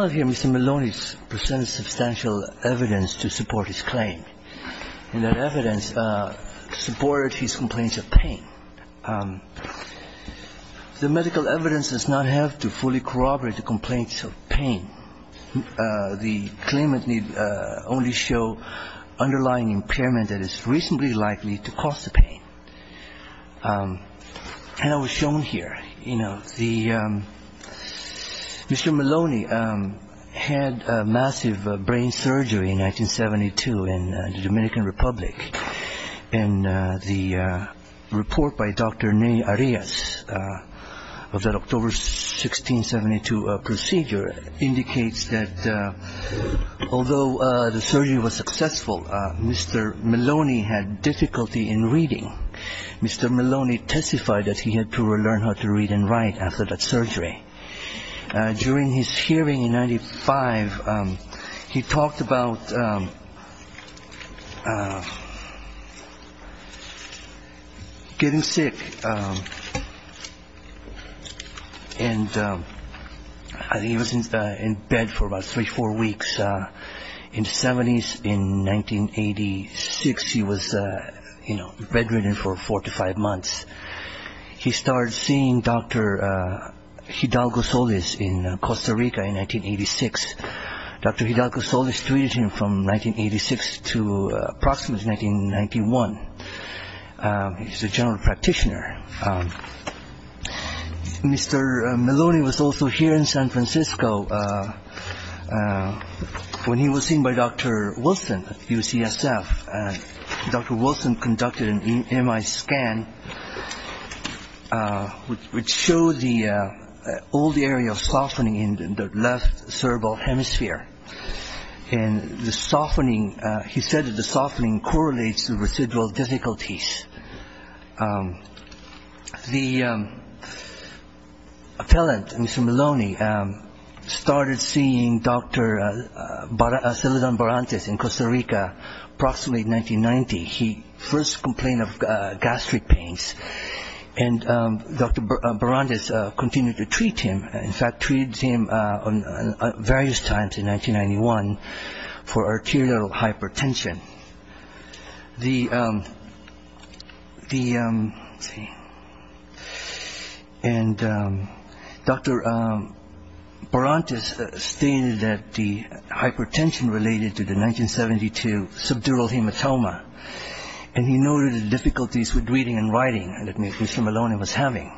Mr. Melloni presents substantial evidence to support his claim, and that evidence supported his complaints of pain. The medical evidence does not have to fully corroborate the complaints of pain. The claimant need only show underlying impairment that is reasonably likely to cause the pain. And I was shown here, you know, the Mr. Melloni had massive brain surgery in 1972 in the Dominican Republic. And the report by Dr. Ney Arias of that October 1672 procedure indicates that although the surgery was successful, Mr. Melloni had difficulty in reading. Mr. Melloni testified that he had to learn how to read and write after that surgery. During his hearing in 1995, he talked about getting sick. And he was in bed for about three or four weeks. In the 70s, in 1986, he was, you know, bedridden for four to five months. He started seeing Dr. Hidalgo Solis in Costa Rica in 1986. Dr. Hidalgo Solis treated him from 1986 to approximately 1991. He's a general practitioner. Mr. Melloni was also here in San Francisco when he was seen by Dr. Wilson at UCSF. Dr. Wilson conducted an EMI scan which showed the old area of softening in the left cerebral hemisphere. And the softening, he said that the softening correlates to residual difficulties. The appellant, Mr. Melloni, started seeing Dr. Celadon Barantes in Costa Rica approximately in 1990. He first complained of gastric pains. And Dr. Barantes continued to treat him. In fact, treated him various times in 1991 for arterial hypertension. And Dr. Barantes stated that the hypertension related to the 1972 subdural hematoma. And he noted the difficulties with reading and writing that Mr. Melloni was having.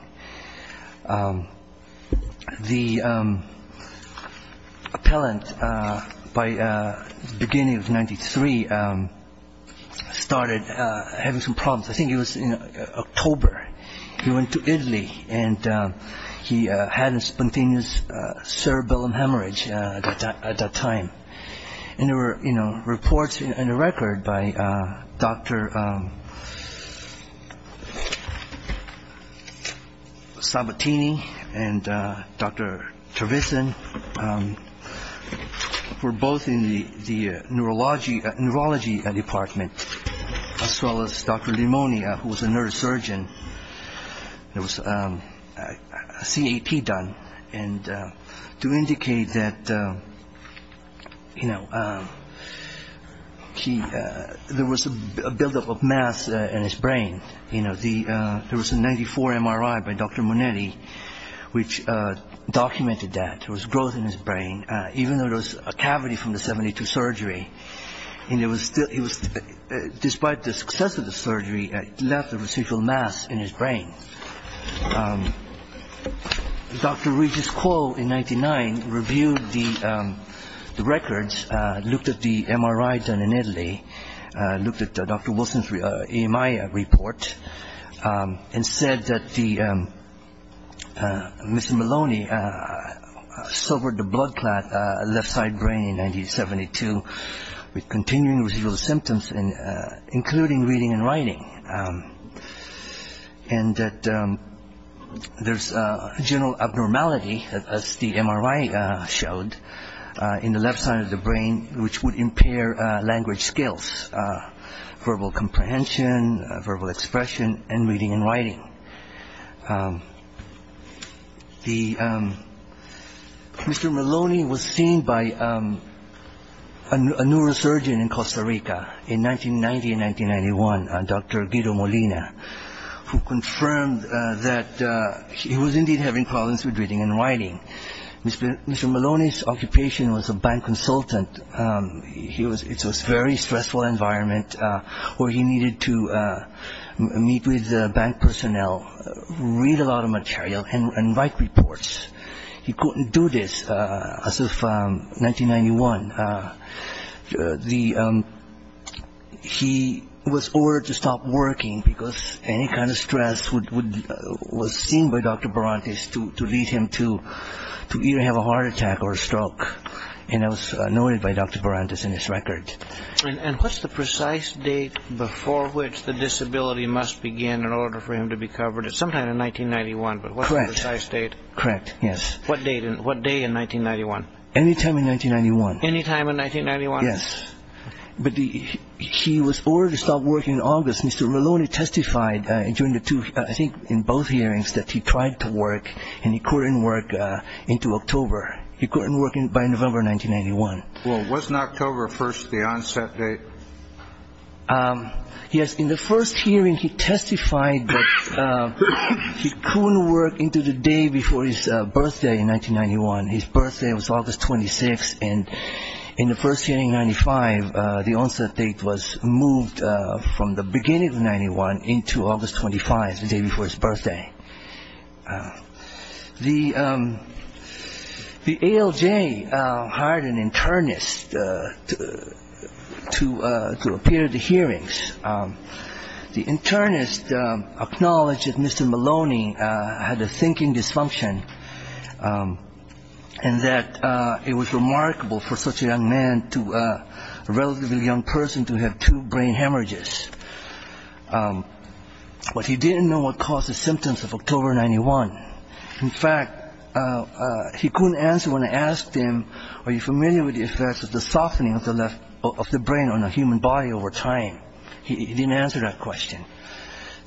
The appellant, by the beginning of 1993, started having some problems. I think it was Sabatini and Dr. Tervisan were both in the neurology department, as well as Dr. Limonia, who was a neurosurgeon. There was a CEP done to There was a 94 MRI by Dr. Monelli which documented that. There was growth in his brain, even though there was a cavity from the 72 surgery. Despite the and said that Mr. Melloni suffered the blood clot left side brain in 1972 with continuing residual symptoms, including reading and writing. And that there's abnormality, as the MRI showed, in the left side of the brain, which would impair language skills, verbal comprehension, verbal expression, and reading and writing. Mr. Melloni was seen by a neurosurgeon in Costa Rica in 1990 and 1991, Dr. Guido Molina, who confirmed that he was indeed having problems with reading and writing. Mr. Melloni's 1991. He was ordered to stop working because any kind of stress was seen by Dr. Berantes to lead him to either have a heart attack or a stroke. And that was noted by Dr. Berantes in his record. And what's the precise date before which the disability must begin in order for him to be covered? It's sometime in 1991, but what's the precise date? Correct, yes. What day in 1991? Anytime in 1991. Yes. But he was ordered to stop working in August. Mr. Melloni testified during the two, I think in both hearings, that he tried to work and he couldn't work into October. He couldn't work by November 1991. Well, wasn't October 1st the onset date? Yes. In the first hearing, he testified that he couldn't work into the day before his birthday in 1991. His birthday was August 26. And in the first hearing, the onset date was moved from the beginning of 1991 into August 25, the day before his birthday. The ALJ hired an internist to appear at the hearings. The internist acknowledged that Mr. Melloni had a thinking dysfunction and that it was remarkable for such a young man to be able to have two brain hemorrhages. But he didn't know what caused the symptoms of October 91. In fact, he couldn't answer when I asked him, are you familiar with the effects of the softening of the brain on a human body over time? He didn't answer that question.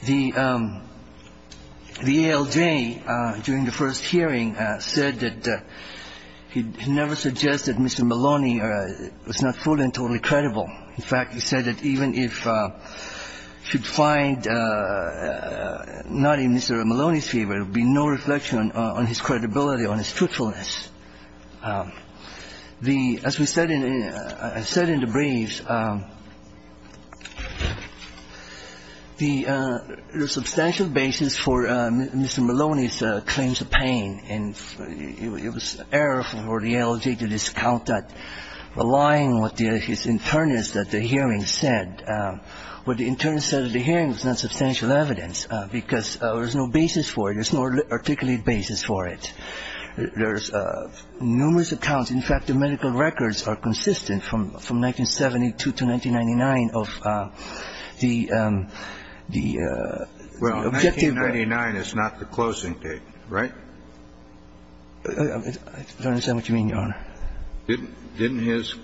The ALJ, during the first hearing, said that he never suggested Mr. Melloni was not fully and totally credible. In fact, he said that even if he should find not in Mr. Melloni's favor, there would be no reflection on his credibility, on his truthfulness. As we said in the briefs, the substantial basis for Mr. Melloni's claims of pain, and it was error for the ALJ to discount that, relying on what the internist at the hearing said. What the internist said at the hearing was not substantial evidence because there was no basis for it. There's numerous accounts. In fact, the medical records are consistent from 1972 to 1999 of the objective. Well, 1999 is not the closing date, right? I don't understand what you mean, Your Honor. Didn't his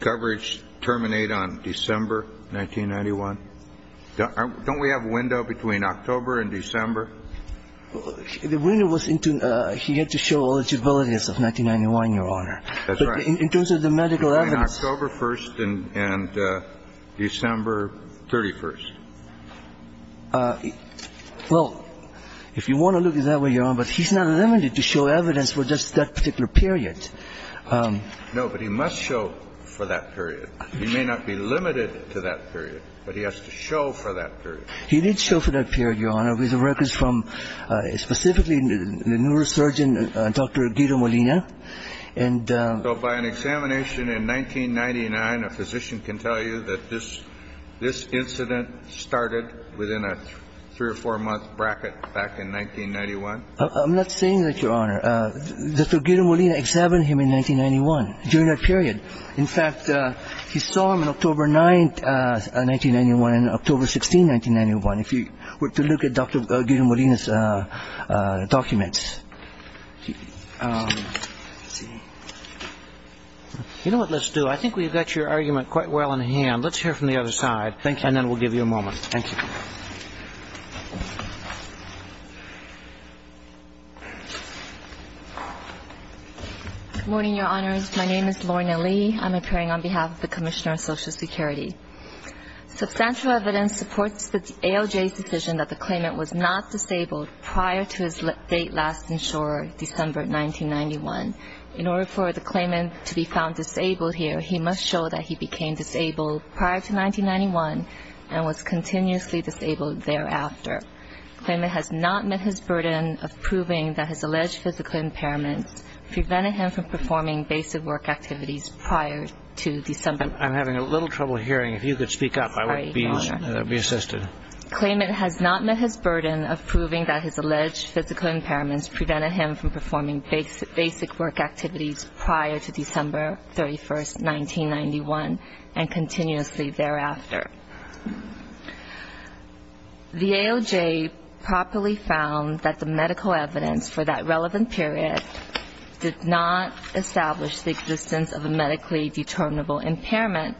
coverage terminate on December 1991? Don't we have a window between October and December? The window was into he had to show eligibility as of 1991, Your Honor. That's right. In terms of the medical evidence. Between October 1st and December 31st. Well, if you want to look at it that way, Your Honor, but he's not limited to show evidence for just that particular period. No, but he must show for that period. He may not be limited to that period, but he has to show for that period. He did show for that period, Your Honor, with the records from specifically the neurosurgeon, Dr. Guido Molina. So by an examination in 1999, a physician can tell you that this incident started within a three or four month bracket back in 1991? I'm not saying that, Your Honor. Dr. Guido Molina examined him in 1991 during that period. In fact, he saw him on October 9th, 1991 and October 16th, 1991. If you were to look at Dr. Guido Molina's documents. You know what, let's do I think we've got your argument quite well in hand. Let's hear from the other side. Thank you. And then we'll give you a moment. Thank you. Good morning, Your Honors. My name is Lorna Lee. I'm appearing on behalf of the Commissioner of Social Security. Substantial evidence supports the ALJ's decision that the claimant was not disabled prior to his date last insured, December 1991. In order for the claimant to be found disabled here, he must show that he became disabled prior to 1991 and was continuously disabled thereafter. The claimant has not met his burden of proving that his alleged physical impairment prevented him from performing basic work activities prior to December. I'm having a little trouble hearing. If you could speak up, I would be assisted. Claimant has not met his burden of proving that his alleged physical impairments prevented him from performing basic work activities prior to December 31st, 1991 and continuously thereafter. The ALJ properly found that the medical evidence for that relevant period did not establish the existence of a medically determinable impairment,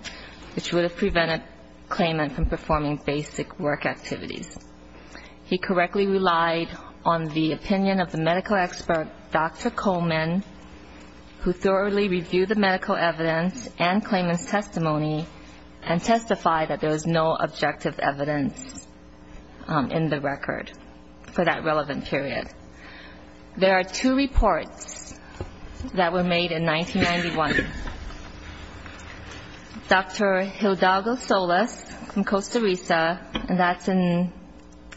which would have prevented claimant from performing basic work activities. He correctly relied on the opinion of the medical expert, Dr. Coleman, who thoroughly reviewed the medical evidence and claimant's testimony and testified that there was no physical impairment. There was no objective evidence in the record for that relevant period. There are two reports that were made in 1991. Dr. Hildago Solis from Costa Rica, and that's in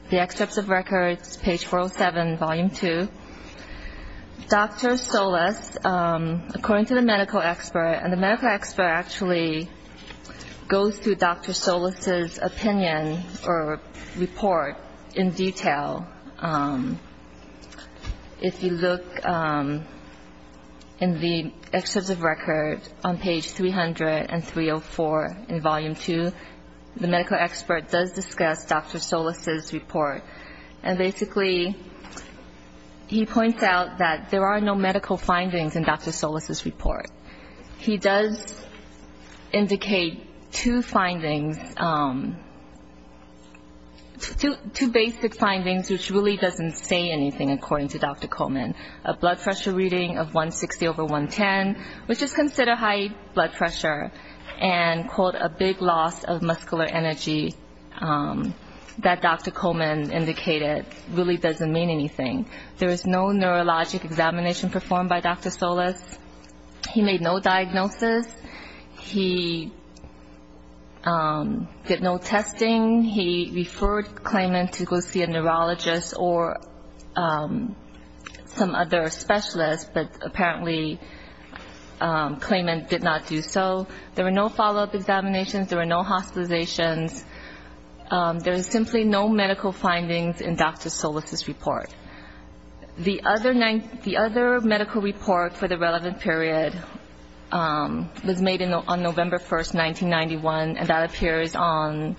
the excerpts of records, page 407, volume 2. Dr. Solis, according to the medical expert, and the medical expert actually goes through Dr. Solis' opinion or report in detail. If you look in the excerpts of records on page 303 and 304 in volume 2, the medical expert does discuss Dr. Solis' report. And basically, he points out that there are no medical findings in Dr. Solis' report. He does indicate two findings, two basic findings, which really doesn't say anything according to Dr. Coleman. A blood pressure reading of 160 over 110, which is considered high blood pressure, and, quote, a big loss of muscular energy that Dr. Coleman indicated really doesn't mean anything. There was no neurologic examination performed by Dr. Solis. He made no diagnosis. He did no testing. He referred Coleman to go see a neurologist or some other specialist, but apparently, Coleman did not do so. There were no follow-up examinations. There were no hospitalizations. There is simply no medical findings in Dr. Solis' report. The other medical report for the relevant period was made on November 1, 1991, and that appears on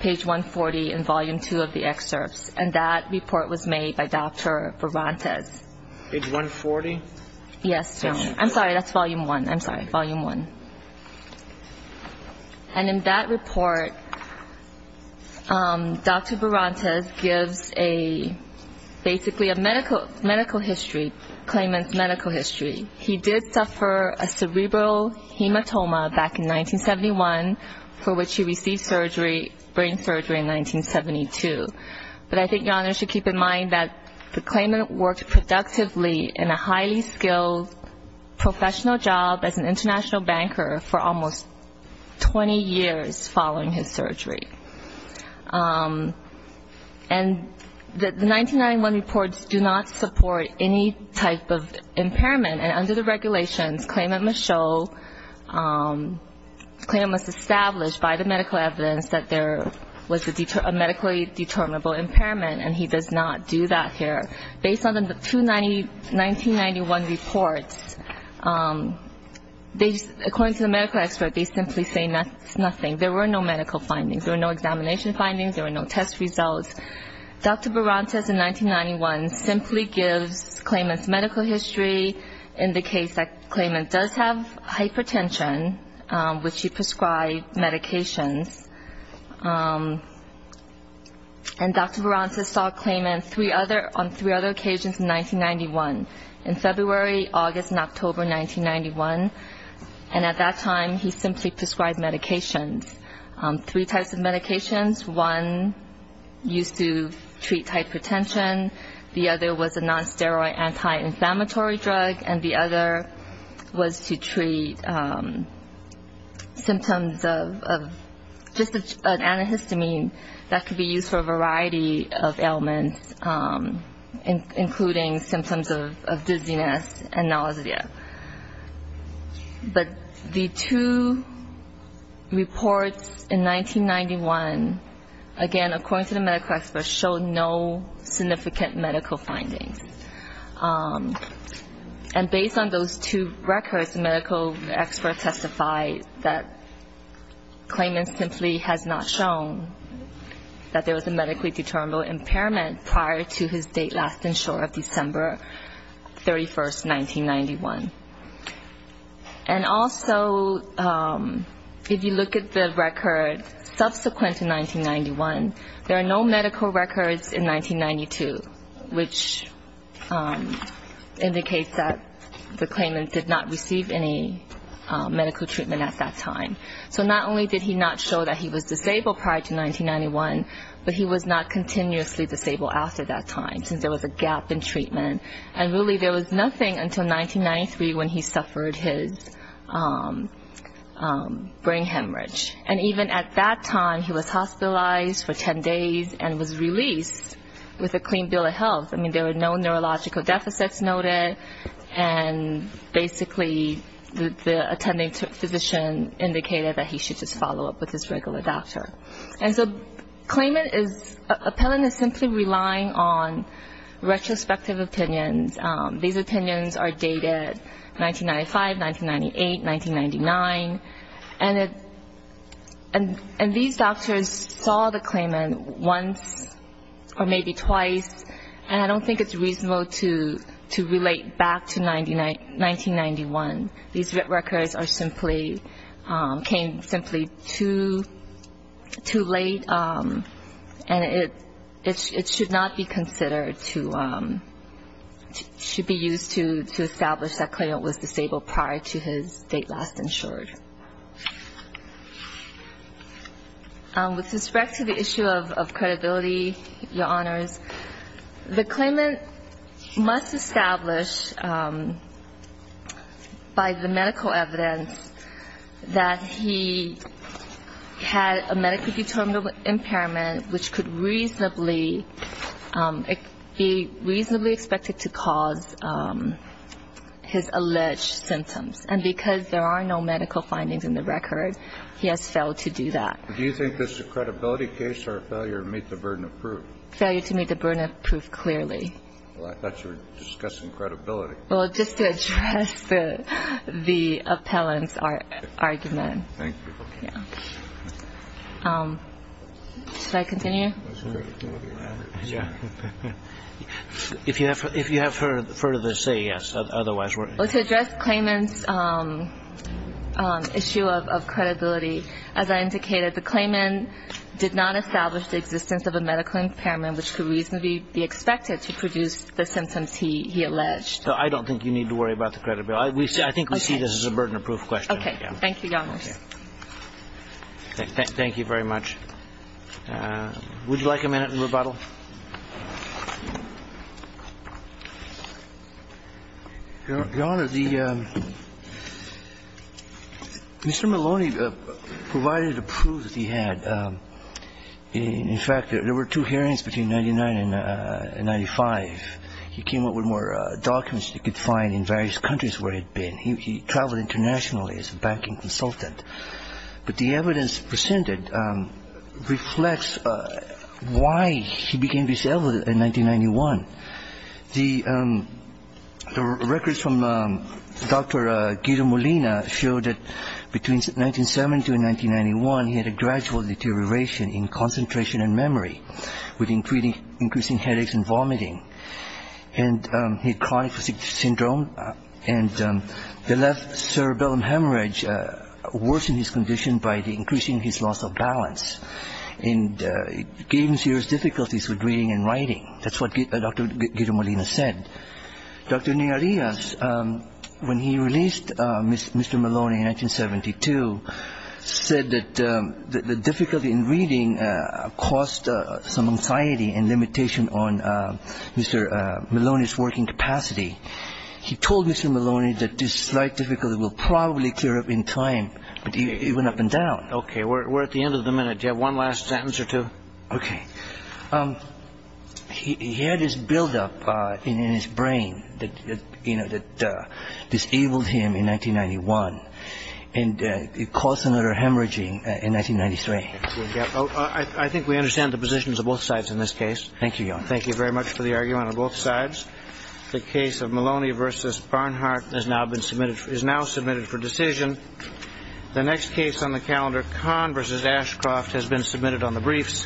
page 140 in volume 2 of the excerpts. And that report was made by Dr. Berantes. Page 140? Yes. I'm sorry, that's volume 1. I'm sorry, volume 1. And in that report, Dr. Berantes gives basically a medical history, Coleman's medical history. He did suffer a cerebral hematoma back in 1971, for which he received brain surgery in 1972. But I think Your Honor should keep in mind that Coleman worked productively in a highly skilled professional job as an international banker for almost 20 years following his surgery. And the 1991 reports do not support any type of impairment, and under the regulations, Coleman must show, Coleman was established by the medical evidence that there was a medically determinable impairment, and he does not do that here. Based on the two 1991 reports, according to the medical expert, they simply say nothing. There were no medical findings. There were no examination findings. There were no test results. Dr. Berantes in 1991 simply gives Coleman's medical history in the case that Coleman does have hypertension, which he prescribed medications. And Dr. Berantes saw Coleman on three other occasions in 1991, in February, August, and October 1991. And at that time, he simply prescribed medications. Three types of medications. One used to treat hypertension. The other was a non-steroid anti-inflammatory drug. And the other was to treat symptoms of just an antihistamine that could be used for a variety of ailments, including symptoms of dizziness and nausea. But the two reports in 1991, again, according to the medical expert, showed no significant medical findings. And based on those two records, the medical expert testified that Coleman simply has not shown that there was a medically determinable impairment prior to his date last and short of December 31, 1991. And also, if you look at the record subsequent to 1991, there are no medical records in 1992, which indicates that Coleman did not receive any medical treatment at that time. So not only did he not show that he was disabled prior to 1991, but he was not continuously disabled after that time, since there was a gap in treatment. And really, there was nothing until 1993 when he suffered his brain hemorrhage. And even at that time, he was hospitalized for 10 days and was released with a clean bill of health. I mean, there were no neurological deficits noted. And basically, the attending physician indicated that he should just follow up with his regular doctor. And so Coleman is ‑‑ Appellant is simply relying on retrospective opinions. These opinions are dated 1995, 1998, 1999. And these doctors saw the claimant once or maybe twice, and I don't think it's reasonable to relate back to 1991. These records are simply ‑‑ came simply too late, and it should not be considered to ‑‑ should be used to establish that claimant was disabled prior to his date last and short. With respect to the issue of credibility, Your Honors, the claimant must establish by the medical evidence that he had a medically determinable impairment, which could reasonably be reasonably expected to cause his alleged symptoms. And because there are no medical findings in the record, he has failed to do that. Do you think this is a credibility case or a failure to meet the burden of proof? Failure to meet the burden of proof, clearly. Well, I thought you were discussing credibility. Well, just to address the appellant's argument. Thank you. Yeah. Should I continue? Yeah. If you have further to say, yes, otherwise we're ‑‑ To address claimant's issue of credibility, as I indicated, the claimant did not establish the existence of a medical impairment which could reasonably be expected to produce the symptoms he alleged. I don't think you need to worry about the credibility. I think we see this as a burden of proof question. Okay. Thank you, Your Honors. Thank you very much. Would you like a minute in rebuttal? Your Honor, the ‑‑ Mr. Maloney provided a proof that he had. In fact, there were two hearings between 1999 and 1995. He came up with more documents he could find in various countries where he had been. He traveled internationally as a banking consultant. But the evidence presented reflects why he became disabled in 1991. The records from Dr. Guido Molina showed that between 1970 and 1991, he had a gradual deterioration in concentration and memory, with increasing headaches and vomiting. And he had chronic fatigue syndrome. And the left cerebellum hemorrhage worsened his condition by increasing his loss of balance. And it gave him serious difficulties with reading and writing. That's what Dr. Guido Molina said. Dr. Nerias, when he released Mr. Maloney in 1972, said that the difficulty in reading caused some anxiety and limitation on Mr. Maloney's working capacity. He told Mr. Maloney that this slight difficulty will probably clear up in time, but he went up and down. Okay. We're at the end of the minute. Do you have one last sentence or two? Okay. He had this buildup in his brain that disabled him in 1991. And it caused another hemorrhaging in 1993. I think we understand the positions of both sides in this case. Thank you, Your Honor. Thank you very much for the argument on both sides. The case of Maloney v. Barnhart is now submitted for decision. The next case on the calendar, Kahn v. Ashcroft, has been submitted on the briefs.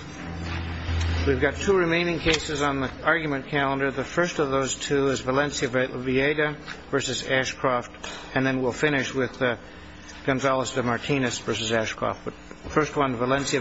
We've got two remaining cases on the argument calendar. The first of those two is Valencia Vieta v. Ashcroft, and then we'll finish with Gonzalez de Martinez v. Ashcroft. First one, Valencia Vieta.